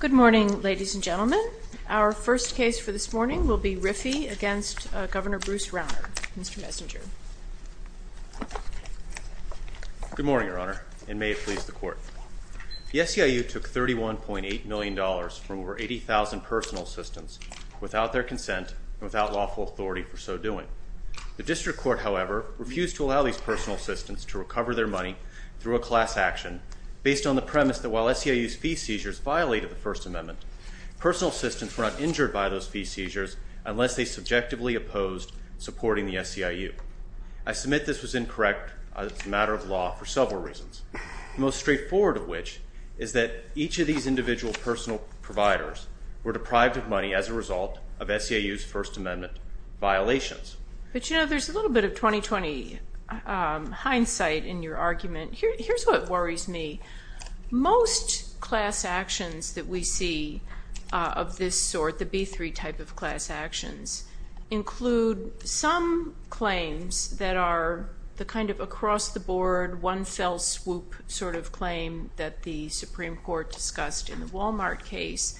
Good morning, ladies and gentlemen. Our first case for this morning will be Riffey v. Governor Bruce Rauner. Mr. Messenger. Good morning, Your Honor, and may it please the Court. The SEIU took $31.8 million from over 80,000 personal assistants without their consent and without lawful authority for so assistance to recover their money through a class action based on the premise that while SEIU's fee seizures violated the First Amendment, personal assistants were not injured by those fee seizures unless they subjectively opposed supporting the SEIU. I submit this was incorrect as a matter of law for several reasons, the most straightforward of which is that each of these individual personal providers were deprived of money as a result of SEIU's First Amendment violations. But you know, there's a little bit of 20-20 hindsight in your argument. Here's what worries me. Most class actions that we see of this sort, the B-3 type of class actions, include some claims that are the kind of across-the-board, one-fell-swoop sort of claim that the Supreme Court discussed in the Walmart case,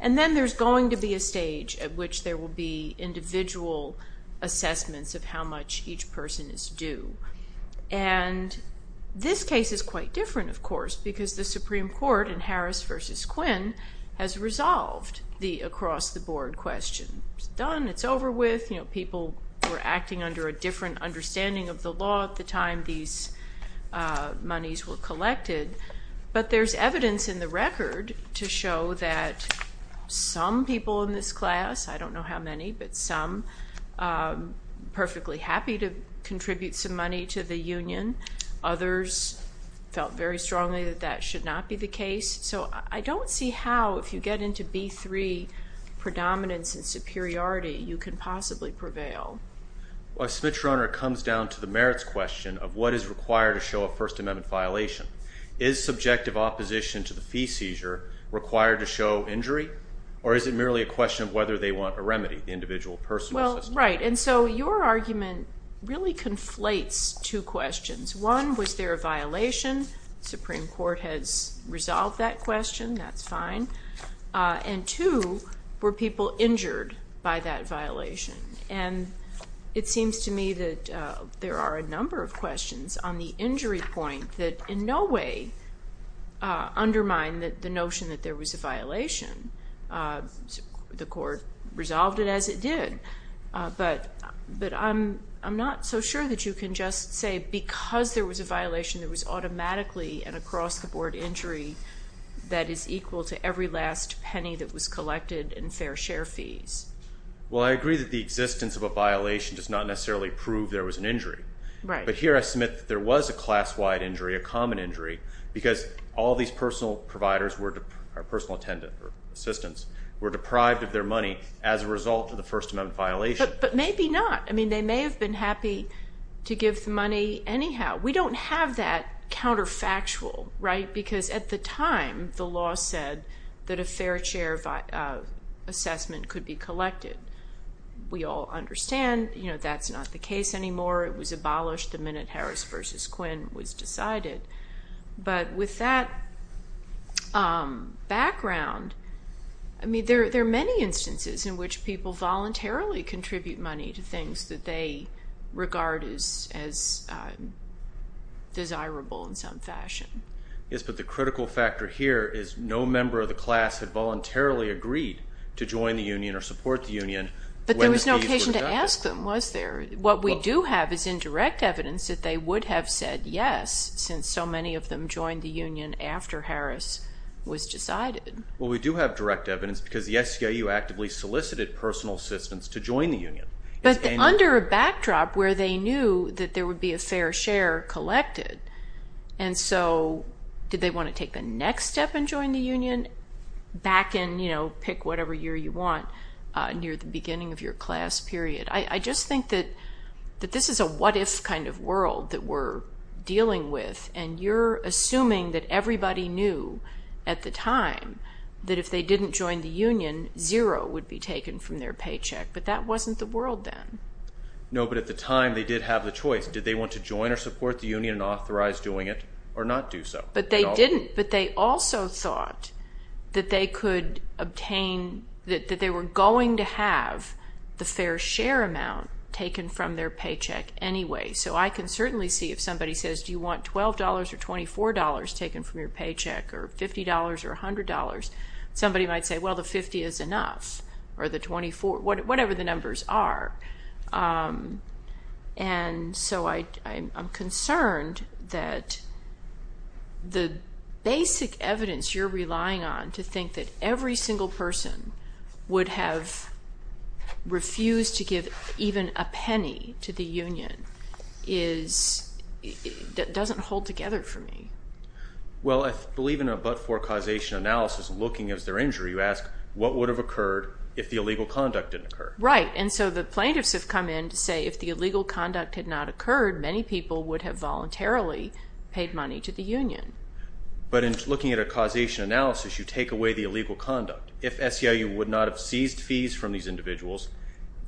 and then there's going to be a stage at which there are assessments of how much each person is due. And this case is quite different, of course, because the Supreme Court in Harris v. Quinn has resolved the across-the-board question. It's done. It's over with. You know, people were acting under a different understanding of the law at the time these monies were collected. But there's evidence in the record to show that some people in this class, I don't know how many, but some, perfectly happy to contribute some money to the union. Others felt very strongly that that should not be the case. So I don't see how, if you get into B-3 predominance and superiority, you can possibly prevail. Well, I submit, Your Honor, it comes down to the merits question of what is required to show a First Amendment violation. Is subjective opposition to the fee seizure required to show injury? Or is it merely a question of whether they want a remedy, the individual personal assessment? Well, right. And so your argument really conflates two questions. One, was there a violation? Supreme Court has resolved that question. That's fine. And two, were people injured by that violation? And it seems to me that there are a number of questions on the injury point that in no way undermine the notion that there was a violation. The court resolved it as it did. But I'm not so sure that you can just say because there was a violation, there was automatically an across-the-board injury that is equal to every last penny that was collected in fair share fees. Well, I agree that the existence of a violation does not necessarily prove there was an injury. Right. But here I submit that there was a class-wide injury, a common injury, because all these personal providers were, or personal attendants or assistants, were deprived of their money as a result of the First Amendment violation. But maybe not. I mean, they may have been happy to give the money anyhow. We don't have that counterfactual, right? Because at the time, the law said that a fair share assessment could be collected. We all understand that's not the case anymore. It was abolished the minute Harris v. Quinn was decided. But with that background, I mean, there are many instances in which people voluntarily contribute money to things that they regard as desirable in some fashion. Yes, but the critical factor here is no member of the class had voluntarily agreed to join the union or support the union when fees were deducted. But there was no occasion to ask them, was there? What we do have is indirect evidence that they would have said yes, since so many of them joined the union after Harris was decided. Well, we do have direct evidence because the SCIU actively solicited personal assistants to join the union. But under a backdrop where they knew that there would be a fair share collected, and so did they want to take the next step and join the union? Back in, you know, pick whatever year you want near the beginning of your class period. I just think that this is a what-if kind of world that we're dealing with, and you're assuming that everybody knew at the time that if they didn't join the union, zero would be taken from their paycheck. But that wasn't the world then. No, but at the time they did have the choice. Did they want to join or support the union and authorize doing it, or not do so? But they didn't. But they also thought that they could obtain, that they were going to have the fair share amount taken from their paycheck anyway. So I can certainly see if somebody says, do you want $12 or $24 taken from your paycheck, or $50 or $100? Somebody might say, well, the 50 is enough, or the 24, whatever the numbers are. And so I'm concerned that the basic evidence you're relying on to think that every single person would have refused to give even a penny to the union is, doesn't hold together for me. Well, I believe in a but-for causation analysis, looking at their injury, you ask, what would have occurred if the illegal conduct didn't occur? Right. And so the plaintiffs have come in to say if the illegal conduct had not occurred, many people would have voluntarily paid money to the union. But in looking at a causation analysis, you take away the illegal conduct. If SEIU would not have seized fees from these individuals,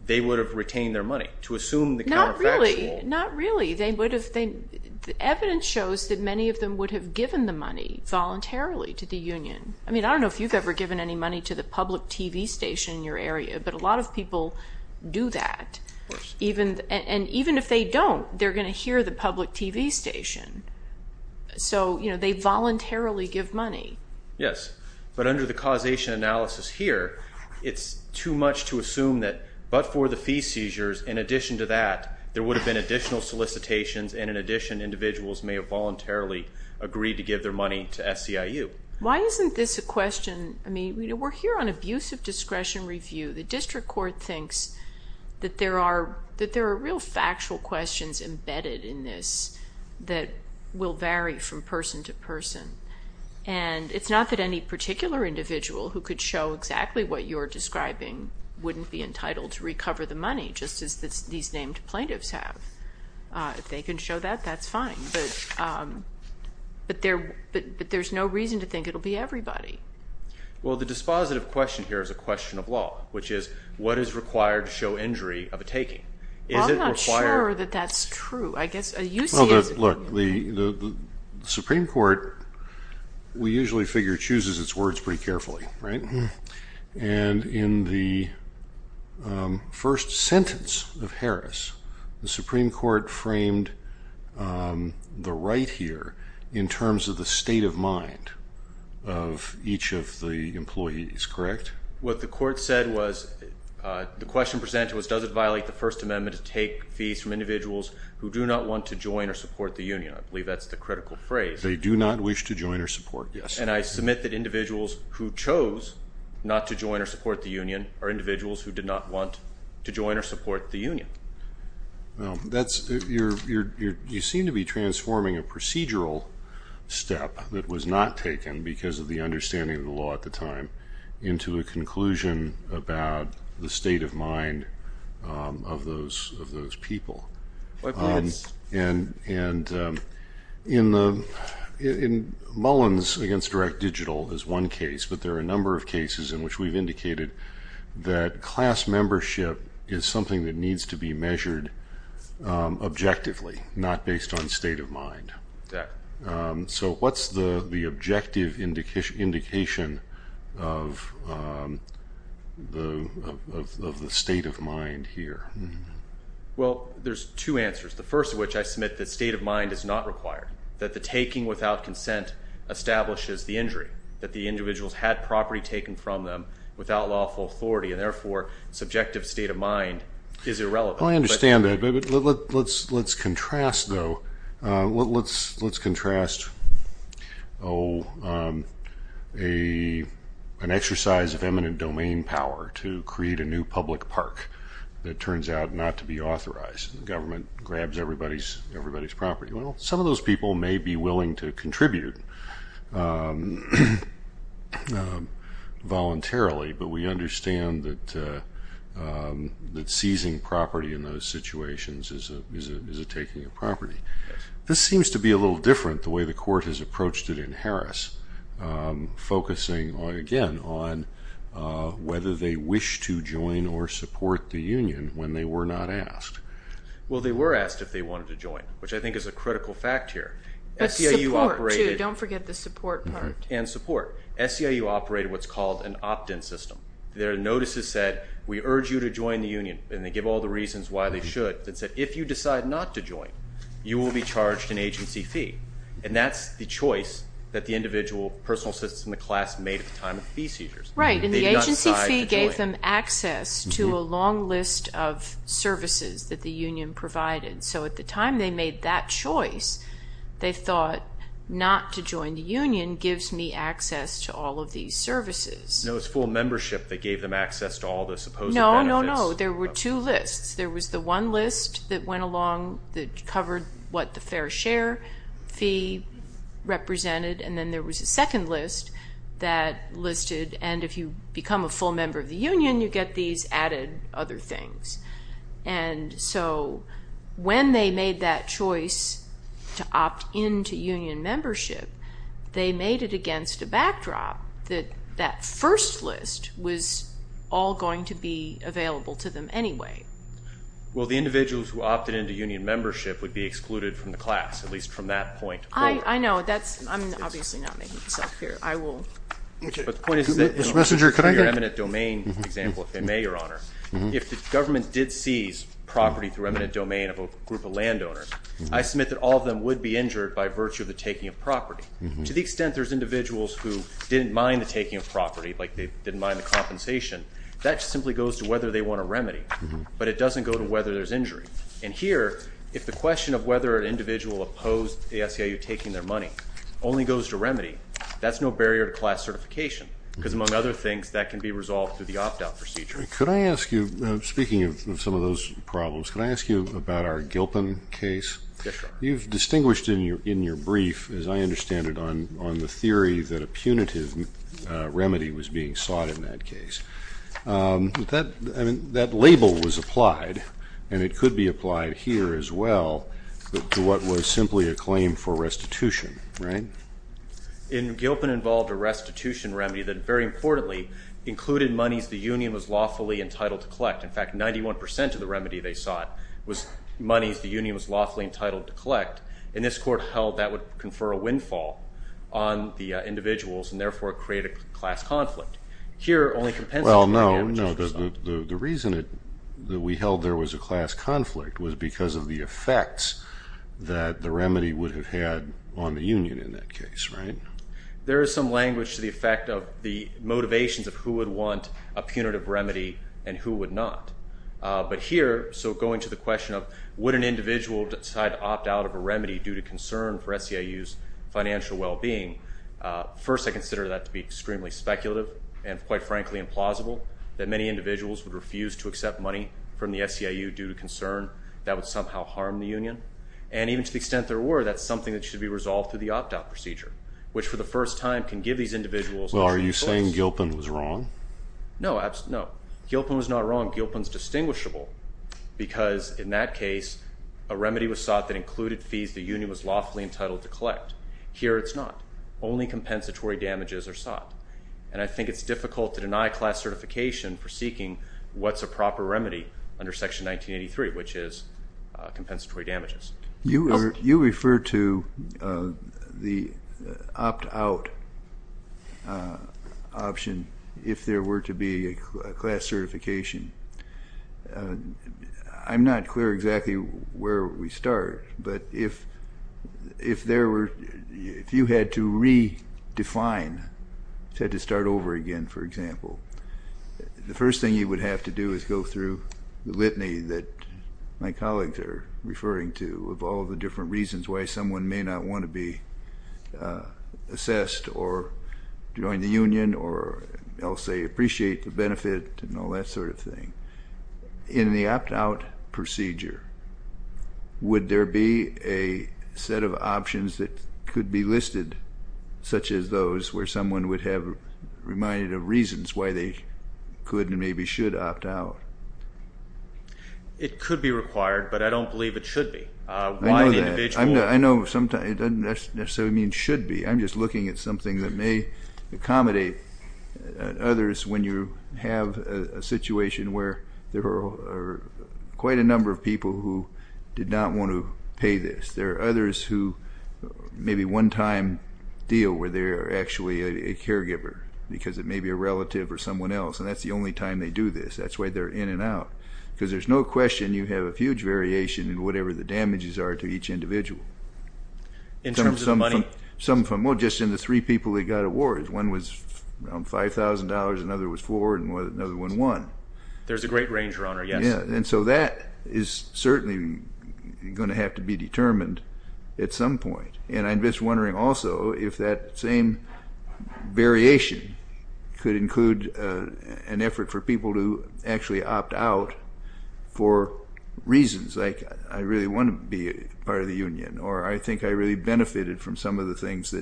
they would have retained their money to assume the counterfactual. Not really. Not really. The evidence shows that many of them would have given the money voluntarily to the union. I mean, I don't know if you've ever given any money to the public TV station in your area, but a lot of people do that. And even if they don't, they're going to hear the public TV station. So, you know, they voluntarily give money. Yes. But under the causation analysis here, it's too much to assume that but-for the fee seizures, in addition to that, there would have been additional solicitations, and in addition, individuals may have voluntarily agreed to give their money to SEIU. Why isn't this a question? I mean, we're here on abusive discretion review. The district court thinks that there are real factual questions embedded in this that will vary from person to person. And it's not that any particular individual who could show exactly what you're describing wouldn't be entitled to recover the money, just as these named plaintiffs have. If they can show that, that's fine. But there's no reason to think it'll be everybody. Well, the dispositive question here is a question of law, which is, what is required to show injury of a taking? Is it required? Well, I'm not sure that that's true. I guess a UCSB... Well, look, the Supreme Court, we usually figure, chooses its words pretty carefully, right? And in the first sentence of Harris, the Supreme Court framed the right here in terms of the state of mind of each of the employees, correct? What the court said was, the question presented was, does it violate the First Amendment to take fees from individuals who do not want to join or support the union? I believe that's the case. Individuals who chose not to join or support the union are individuals who did not want to join or support the union. Well, you seem to be transforming a procedural step that was not taken because of the understanding of the law at the time into a conclusion about the state of mind of those people. And in Mullin's against direct digital is one case but there are a number of cases in which we've indicated that class membership is something that needs to be measured objectively, not based on state of mind. So what's the objective indication of the state of mind here? Well, there's two answers, the first of which I submit that state of mind is not required, that the taking without consent establishes the injury, that the individuals had property taken from them without lawful authority and therefore subjective state of mind is irrelevant. Well, I understand that but let's contrast though, let's contrast an exercise of eminent domain power to create a new public park that turns out not to be authorized. The government grabs everybody's property. Well, some of those people may be willing to contribute voluntarily but we understand that seizing property in those situations is a taking of property. This seems to be a little different the way the court has approached it in Harris, focusing again on whether they wish to join or support the union when they were not asked. Well, they were asked if they wanted to join which I think is a critical fact here. But support too, don't forget the support part. And support. SCIU operated what's called an opt-in system. Their notices said we urge you to join the union and they give all the reasons why they should. It said if you decide not to join, you will be charged an agency fee and that's the choice that the individual personal assistant in the class made at the time of fee seizures. Right, and the agency fee gave them access to a long list of services that the union provided. So at the time they made that choice, they thought not to join the union gives me access to all of these services. No, it's full membership that gave them access to all the supposed benefits. No, no, no. There were two lists. There was the one list that went along that covered what the fair share fee represented and then there was a second list that listed and if you become a full member of the union, you get these added other things. And so when they made that choice to opt into union membership, they made it against a backdrop that that first list was all going to be available to them anyway. Well, the individuals who opted into union membership would be excluded from the class, at least from that point forward. I know. That's, I'm obviously not making myself clear. I will. But the point is that, in your eminent domain example, if they may, Your Honor, if the government did seize property through eminent domain of a group of landowners, I submit that all of them would be injured by virtue of the taking of property. To the extent there's individuals who didn't mind the taking of property, like they didn't mind the compensation, that simply goes to whether they want a remedy. But it doesn't go to whether there's injury. And here, if the question of whether an individual opposed the SEIU taking their money only goes to remedy, that's no barrier to class certification because among other things, that can be resolved through Can I ask you about our Gilpin case? Yes, Your Honor. You've distinguished in your brief, as I understand it, on the theory that a punitive remedy was being sought in that case. That label was applied, and it could be applied here as well, to what was simply a claim for restitution, right? And Gilpin involved a restitution remedy that, very importantly, included monies the union was lawfully entitled to collect. In fact, 91 percent of the remedy they sought was monies the union was lawfully entitled to collect, and this Court held that would confer a windfall on the individuals and therefore create a class conflict. Here, only compensatory damages were sought. Well, no. The reason that we held there was a class conflict was because of the effects that the remedy would have had on the union in that case, right? There is some language to the effect of the motivations of who would want a punitive remedy and who would not. But here, so going to the question of would an individual decide to opt out of a remedy due to concern for SEIU's financial well-being, first I consider that to be extremely speculative and, quite frankly, implausible, that many individuals would refuse to accept money from the SEIU due to concern that would somehow harm the union. And even to the extent there were, that's something that should be resolved through the opt-out procedure, which, for the first time, can give these individuals... Well, are you saying Gilpin was wrong? No, absolutely not. Gilpin was not wrong. Gilpin's distinguishable because in that case, a remedy was sought that included fees the union was lawfully entitled to collect. Here, it's not. Only compensatory damages are sought. And I think it's difficult to deny class certification for seeking what's a proper remedy under Section 1983, which is compensatory damages. You refer to the opt-out option if there were to be a class certification. I'm not clear exactly where we start, but if there were, if you had to redefine, had to start over again, for example, the first thing you would have to do is go through the litany that my colleagues are referring to of all the different reasons why someone may not want to be assessed or join the union or, I'll say, appreciate the benefit and all that sort of thing. In the opt-out procedure, would there be a set of options that could be listed, such as those where someone would have reminded reasons why they could and maybe should opt out? It could be required, but I don't believe it should be. I know that. I know it doesn't necessarily mean should be. I'm just looking at something that may accommodate others when you have a situation where there are quite a number of people who did not want to pay this. There are others who maybe one-time deal where they are actually a caregiver because it may be a relative or someone else, and that's the only time they do this. That's why they're in and out, because there's no question you have a huge variation in whatever the damages are to each individual. In terms of the money? Well, just in the three people that got awards, one was around $5,000, another was four, and another one won. There's a great range, Your Honor, yes. Yeah, and so that is certainly going to have to be determined at some point, and I'm just variation could include an effort for people to actually opt out for reasons, like I really want to be part of the union, or I think I really benefited from some of the things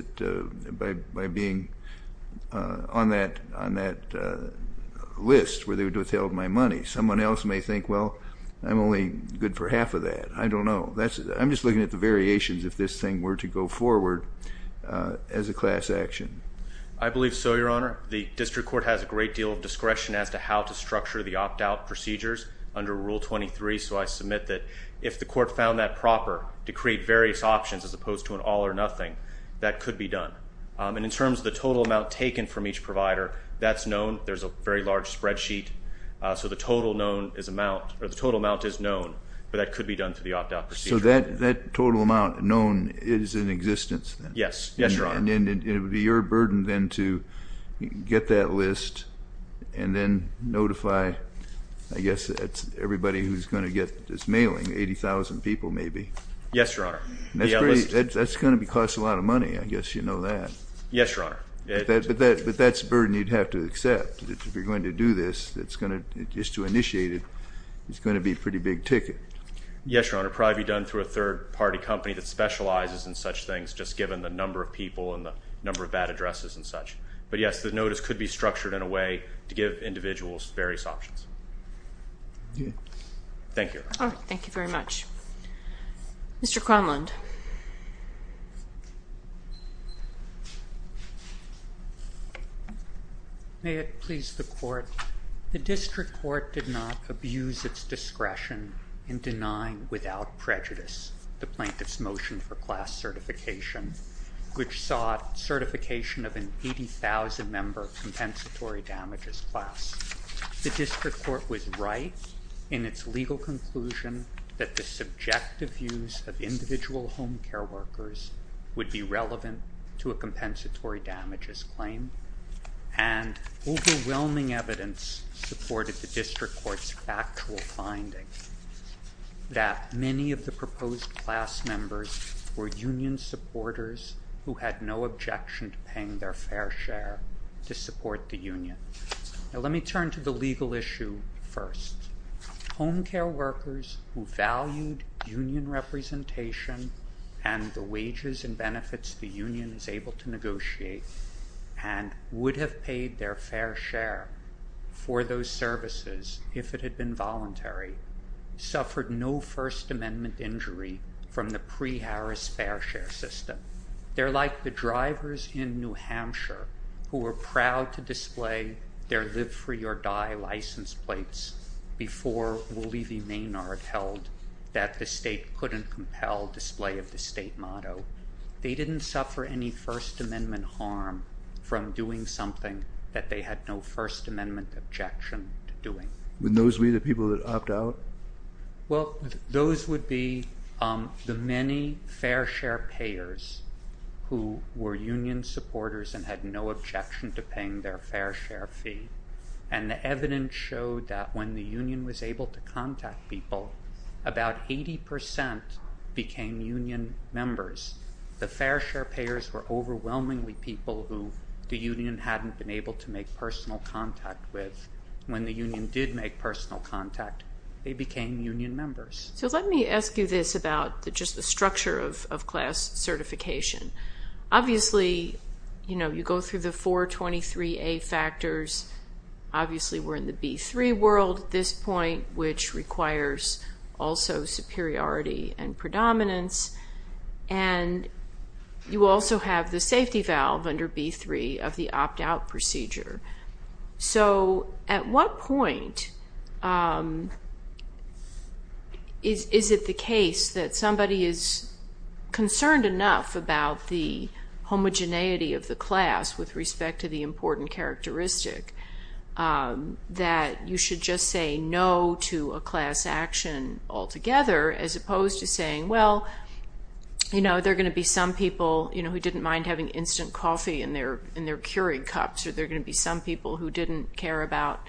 by being on that list where they would have withheld my money. Someone else may think, well, I'm only good for half of that. I don't know. I'm just looking at the variations if this thing were to go forward as a class action. I believe so, Your Honor. The district court has a great deal of discretion as to how to structure the opt-out procedures under Rule 23, so I submit that if the court found that proper to create various options as opposed to an all or nothing, that could be done. And in terms of the total amount taken from each provider, that's known. There's a very large spreadsheet, so the total amount is known, but that could be done through the opt-out procedure. So that total amount known is in existence then? Yes, Your Honor. And it would be your burden then to get that list and then notify, I guess, everybody who's going to get this mailing, 80,000 people maybe? Yes, Your Honor. That's going to cost a lot of money. I guess you know that. Yes, Your Honor. But that's a burden you'd have to accept. If you're going to do this, just to initiate it, it's going to be a pretty big ticket. Yes, Your Honor. Probably be done through a third-party company that specializes in such things, just given the number of people and the number of bad addresses and such. But yes, the notice could be structured in a way to give individuals various options. Thank you. All right. Thank you very much. Mr. Cronlund. May it please the Court. The District Court did not abuse its discretion in denying without prejudice the plaintiff's motion for class certification, which sought certification of an 80,000-member compensatory damages class. The District Court was right in its legal conclusion that the subjective views of individual home care workers would be relevant to a compensatory damages claim, and overwhelming evidence supported the District Court's factual finding that many of the proposed class members were union supporters who had no objection to paying their fair share to support the union. Now, let me turn to the legal issue first. Home care workers who valued union representation and the wages and benefits the union is able to negotiate, and would have paid their fair share for those services if it had been voluntary, suffered no First Amendment injury from the pre-Harris fair share system. They're like the drivers in New Hampshire who were proud to display their live-free-or-die license plates before Wooley v. Maynard held that the state couldn't compel display of the state motto. They didn't suffer any First Amendment harm from doing something that they had no First Amendment objection to doing. Wouldn't those be the people that opt out? Well, those would be the many fair share payers who were union supporters and had no objection to paying their fair share fee. And the evidence showed that when the union was able to contact people, about 80 percent became union members. The fair share payers were overwhelmingly people who the union hadn't been able to make personal contact with. When the union did make personal contact, they became union members. So let me ask you this about just the structure of class certification. Obviously, you go through the 423A factors. Obviously, we're in the B3 world at this point, which requires also superiority and predominance. And you also have the safety valve under B3 of the opt-out procedure. So at what point is it the case that somebody is about the homogeneity of the class with respect to the important characteristic that you should just say no to a class action altogether as opposed to saying, well, there are going to be some people who didn't mind having instant coffee in their Keurig cups, or there are going to be some people who didn't care about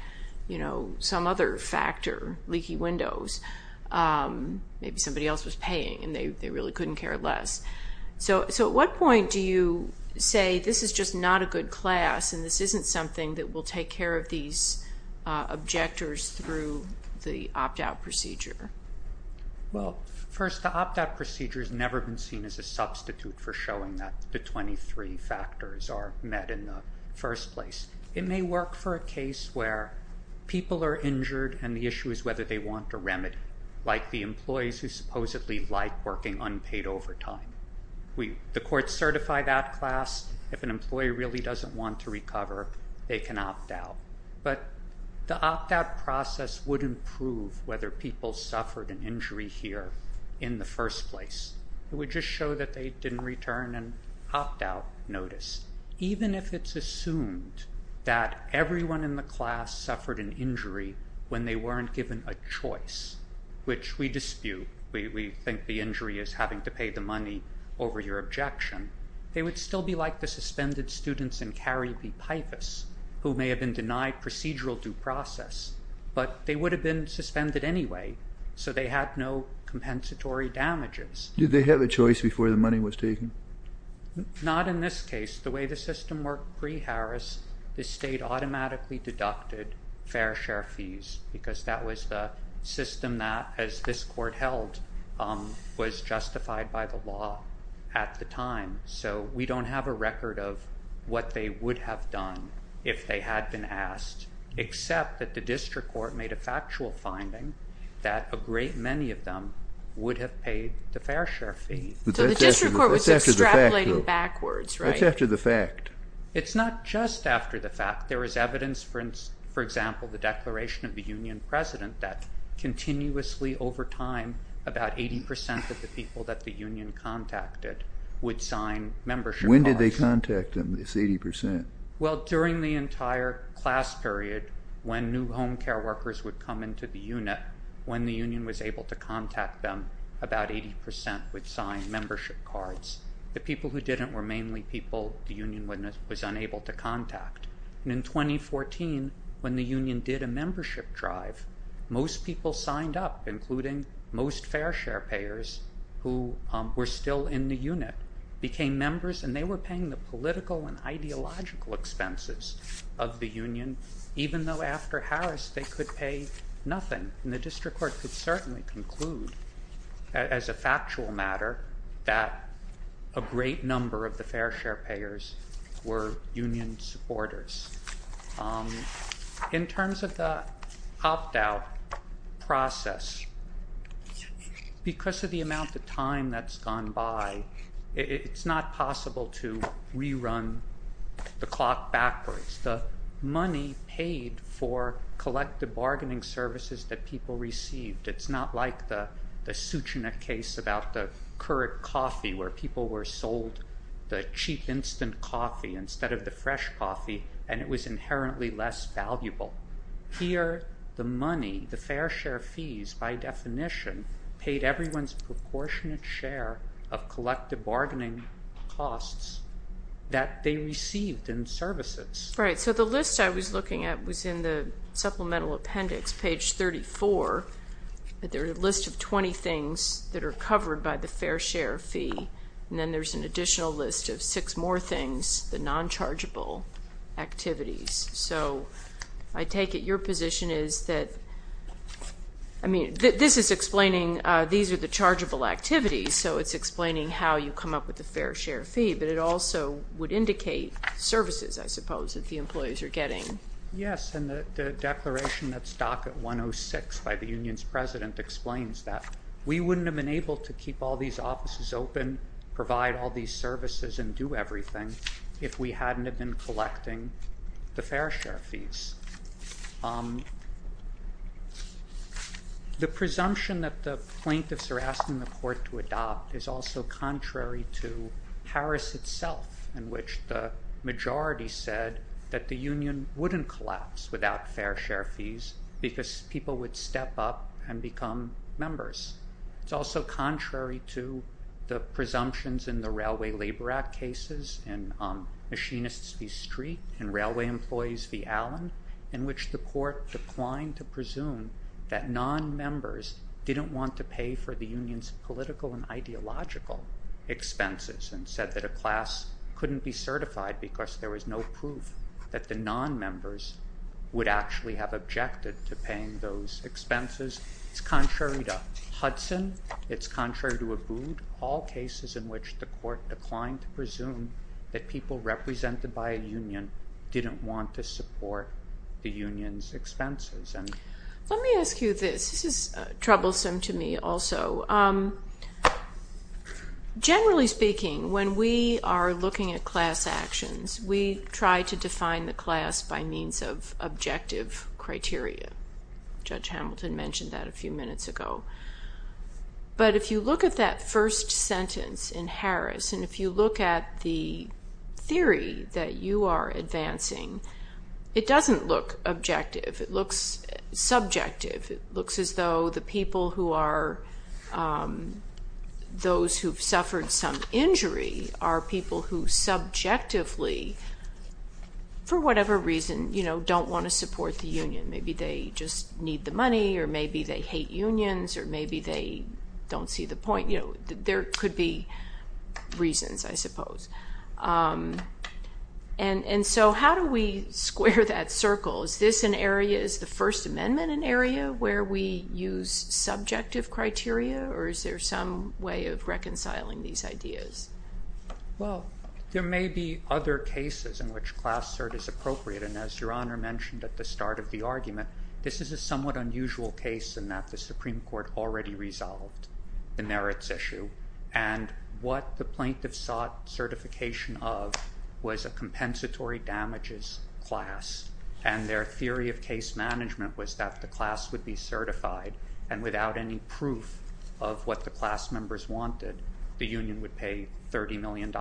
some other factor, leaky windows. Maybe somebody else was paying and they really couldn't care less. So at what point do you say this is just not a good class and this isn't something that will take care of these objectors through the opt-out procedure? Well, first, the opt-out procedure has never been seen as a substitute for showing that the 23 factors are met in the first place. It may work for a case where people are injured and the issue is whether they want a remedy, like the employees who supposedly like working unpaid overtime. The courts certify that class. If an employee really doesn't want to recover, they can opt out. But the opt-out process wouldn't prove whether people suffered an injury here in the first place. It would just show that they didn't return an opt-out notice, even if it's assumed that everyone in the class suffered an injury when they weren't given a choice, which we dispute. We think the injury is having to pay the money over your objection. They would still be like the suspended students in Carey v. Pipus, who may have been denied procedural due process, but they would have been suspended anyway, so they had no compensatory damages. Did they have a choice before the money was taken? Not in this case. The way the system worked pre-Harris, the state automatically deducted fair share fees because that was the system that, as this court held, was justified by the law at the time. So we don't have a record of what they would have done if they had been asked, except that the district court made a factual finding that a great many of them would have paid the fair share fees. So the district court was extrapolating backwards, right? That's after the fact. It's not just after the fact. There is evidence, for example, the declaration of the union president that continuously over time, about 80% of the people that the union contacted would sign membership cards. When did they contact them, this 80%? Well, during the entire class period, when new home care workers would come into the unit, when the union was able to contact, 80% would sign membership cards. The people who didn't were mainly people the union was unable to contact. In 2014, when the union did a membership drive, most people signed up, including most fair share payers who were still in the unit, became members and they were paying the political and ideological expenses of the union, even though after Harris they could pay nothing. And the district court could certainly conclude as a factual matter that a great number of the fair share payers were union supporters. In terms of the opt-out process, because of the amount of time that's gone by, it's not possible to rerun the clock backwards. The money paid for collective bargaining services that people received, it's not like the Suchina case about the current coffee where people were sold the cheap instant coffee instead of the fresh coffee and it was inherently less valuable. Here, the money, the fair share fees, by definition, paid everyone's proportionate share of collective bargaining costs that they received in services. Right, so the list I was looking at was in the supplemental appendix, page 34, but there's a list of 20 things that are covered by the fair share fee, and then there's an additional list of six more things, the non-chargeable activities. So I take it your position is that, I mean, this is explaining, these are the chargeable activities, so it's explaining how you come up with the fair share fee, but it also would indicate services, I suppose, that the employees are getting. Yes, and the declaration that's docked at 106 by the union's president explains that we wouldn't have been able to keep all these offices open, provide all these services, and do everything if we hadn't have been collecting the fair share fees. The presumption that the plaintiffs are asking the court to adopt is also contrary to in which the majority said that the union wouldn't collapse without fair share fees because people would step up and become members. It's also contrary to the presumptions in the Railway Labor Act cases, and Machinists v. Street, and Railway Employees v. Allen, in which the court declined to presume that non-members didn't want to pay for the union's political and ideological expenses, and said that a class couldn't be certified because there was no proof that the non-members would actually have objected to paying those expenses. It's contrary to Hudson, it's contrary to Abood, all cases in which the court declined to presume that people represented by a union didn't want to support the union's expenses. Let me ask you this, this is generally speaking, when we are looking at class actions, we try to define the class by means of objective criteria. Judge Hamilton mentioned that a few minutes ago. But if you look at that first sentence in Harris, and if you look at the theory that you are advancing, it doesn't look objective, it looks subjective, it looks as though the people who are those who've suffered some injury are people who subjectively, for whatever reason, you know, don't want to support the union. Maybe they just need the money, or maybe they hate unions, or maybe they don't see the point, you know, there could be reasons, I suppose. And so how do we square that circle? Is this an area, is the First Amendment an area where we use subjective criteria, or is there some way of reconciling these ideas? Well, there may be other cases in which class cert is appropriate, and as Your Honor mentioned at the start of the argument, this is a somewhat unusual case in that the Supreme Court already resolved the merits issue. And what the plaintiff sought certification of was a compensatory damages class, and their theory of case management was that the class would be certified, and without any proof of what the class members wanted, the union would pay $30 million.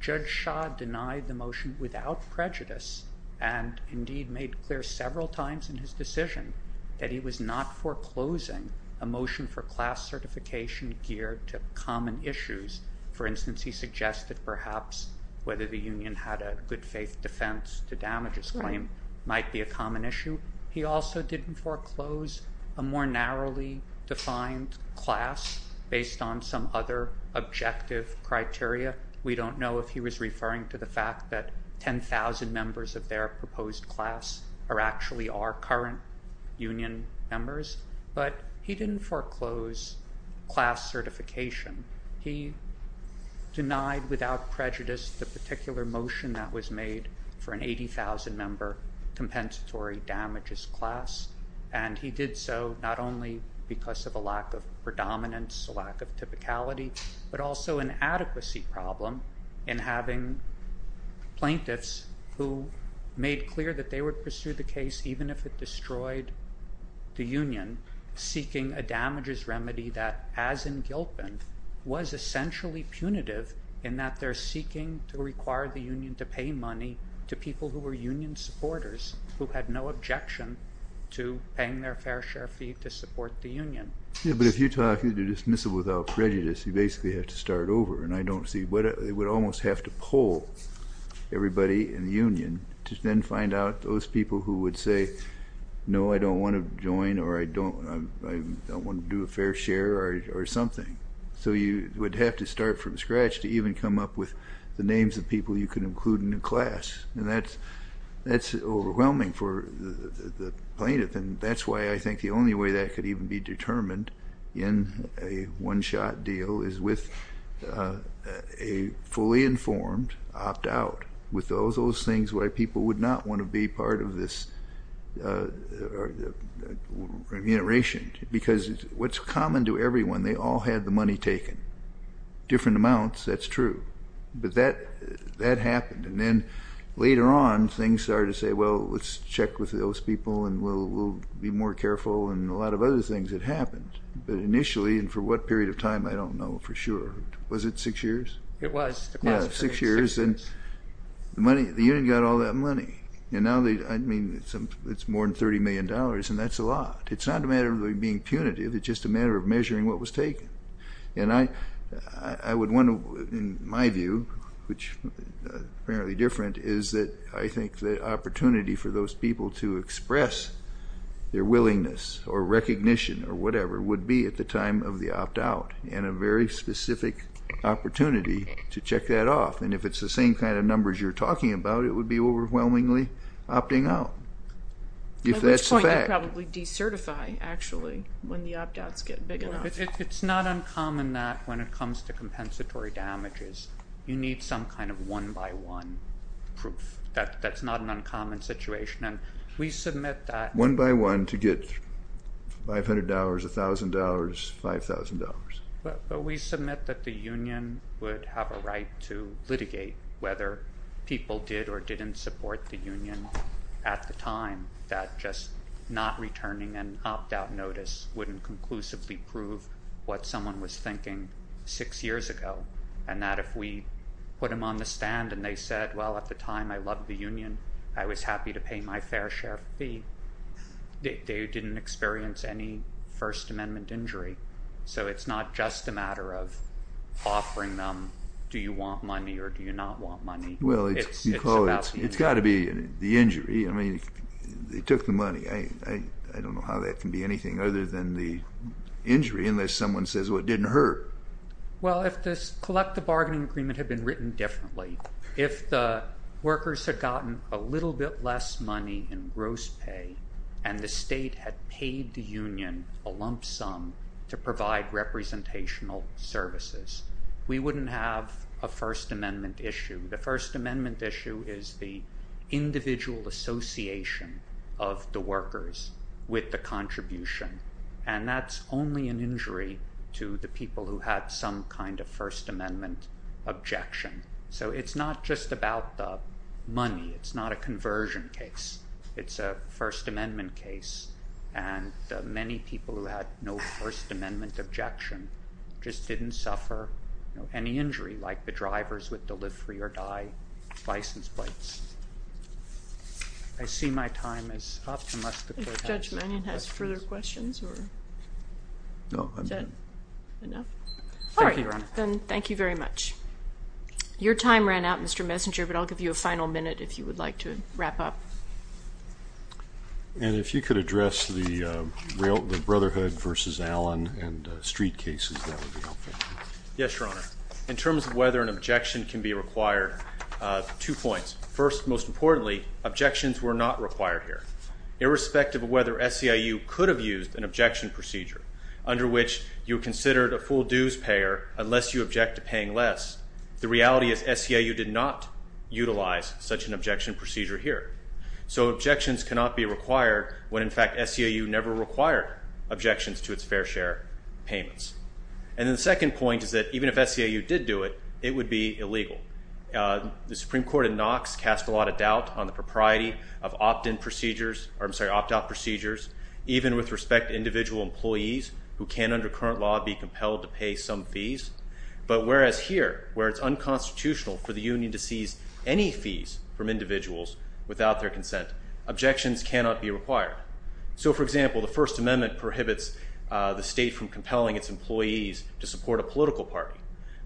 Judge Shah denied the motion without prejudice, and indeed made clear several times in his decision that he was not foreclosing a motion for class certification geared to common issues. For the union had a good faith defense to damages claim might be a common issue. He also didn't foreclose a more narrowly defined class based on some other objective criteria. We don't know if he was referring to the fact that 10,000 members of their proposed class are actually our current union members, but he didn't foreclose class certification. He denied without prejudice the particular motion that was made for an 80,000 member compensatory damages class, and he did so not only because of a lack of predominance, a lack of typicality, but also an adequacy problem in having plaintiffs who made clear that they would pursue the case even if it destroyed the union seeking a damages remedy that, as in Gilpin, was essentially punitive in that they're seeking to require the union to pay money to people who were union supporters who had no objection to paying their fair share fee to support the union. Yeah, but if you're talking to dismissal without prejudice, you basically have to start over, and I don't see what it would almost have to pull everybody in the union to then find out those people who would say no, I don't want to join or I don't want to do a fair share or something. So you would have to even come up with the names of people you could include in a class, and that's overwhelming for the plaintiff, and that's why I think the only way that could even be determined in a one-shot deal is with a fully informed opt-out, with those things why people would not want to be part of this remuneration, because what's common to everyone, they all had the money taken, different amounts, that's true, but that happened, and then later on things started to say, well, let's check with those people and we'll be more careful, and a lot of other things that happened, but initially, and for what period of time, I don't know for sure, was it six years? It was. Yeah, six years, and the money, the union got all that money, and now they, I mean, it's more than 30 million dollars, and that's a lot. It's not a matter of being punitive, it's just a matter of I would want to, in my view, which is apparently different, is that I think the opportunity for those people to express their willingness or recognition or whatever would be at the time of the opt-out, and a very specific opportunity to check that off, and if it's the same kind of numbers you're talking about, it would be overwhelmingly opting out, if that's the fact. At which point, they'd probably decertify, actually, when the opt-outs get big enough. It's not uncommon that when it comes to compensatory damages, you need some kind of one-by-one proof. That's not an uncommon situation, and we submit that... One-by-one to get $500, $1,000, $5,000. But we submit that the union would have a right to litigate whether people did or didn't support the union at the time, that just not returning an opt-out notice wouldn't conclusively prove what someone was thinking six years ago, and that if we put them on the stand and they said, well, at the time, I loved the union, I was happy to pay my fair share fee, they didn't experience any First Amendment injury. So it's not just a matter of offering them, do you want money or do you not want money? Well, it's got to be the injury. I mean, they took the money. I don't know how that can be anything other than the injury, unless someone says, well, it didn't hurt. Well, if this collective bargaining agreement had been written differently, if the workers had gotten a little bit less money in gross pay and the state had paid the union a lump sum to provide representational services, we wouldn't have a First Amendment issue. The First Amendment issue is the individual association of the workers with the contribution, and that's only an injury to the people who had some kind of First Amendment objection. So it's not just about the money. It's not a conversion case. It's a First Amendment case, and many people who had no First Amendment objection just didn't suffer any injury, like the drivers with delivery or die license plates. I see my time is up. I think Judge Mannion has further questions, or is that enough? All right, then thank you very much. Your time ran out, Mr. Messenger, but I'll give you a final minute if you would like to wrap up. And if you could address the Brotherhood versus Allen and street cases, that would be helpful. Yes, Your Honor. In terms of whether an objection can be required, two points. First, most importantly, objections were not required here. Irrespective of whether SEIU could have used an objection procedure under which you considered a full dues payer unless you object to paying less, the reality is SEIU did not utilize such an objection procedure here. So objections cannot be required when, in fact, SEIU never required objections to its fair share payments. And the second point is that even if SEIU did do it, it would be illegal. The Supreme Court in Knox cast a lot of doubt on the propriety of opt-in procedures, or I'm sorry, opt-out procedures, even with respect to individual employees who can, under current law, be compelled to pay some fees. But whereas here, where it's unconstitutional for the union to seize any fees from individuals without their consent, objections cannot be required. So, for example, the First Amendment prohibits the union from compelling its employees to support a political party.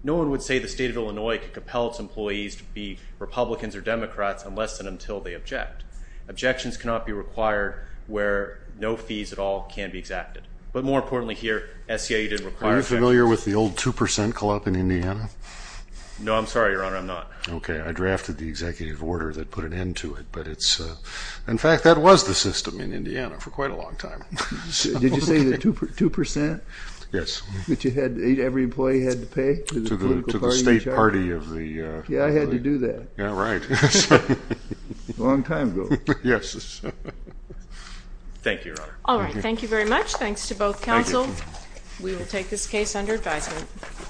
No one would say the state of Illinois could compel its employees to be Republicans or Democrats unless and until they object. Objections cannot be required where no fees at all can be exacted. But more importantly here, SEIU didn't require... Are you familiar with the old 2% club in Indiana? No, I'm sorry, Your Honor, I'm not. Okay, I drafted the executive order that put an end to it, but it's... In fact, that was the system in Indiana for quite a long time. Did you say the 2%? Yes. That you had, every employee had to pay? To the state party of the... Yeah, I had to do that. Yeah, right. Long time ago. Yes. Thank you, Your Honor. All right, thank you very much. Thanks to both counsel. We will take this case under advisement.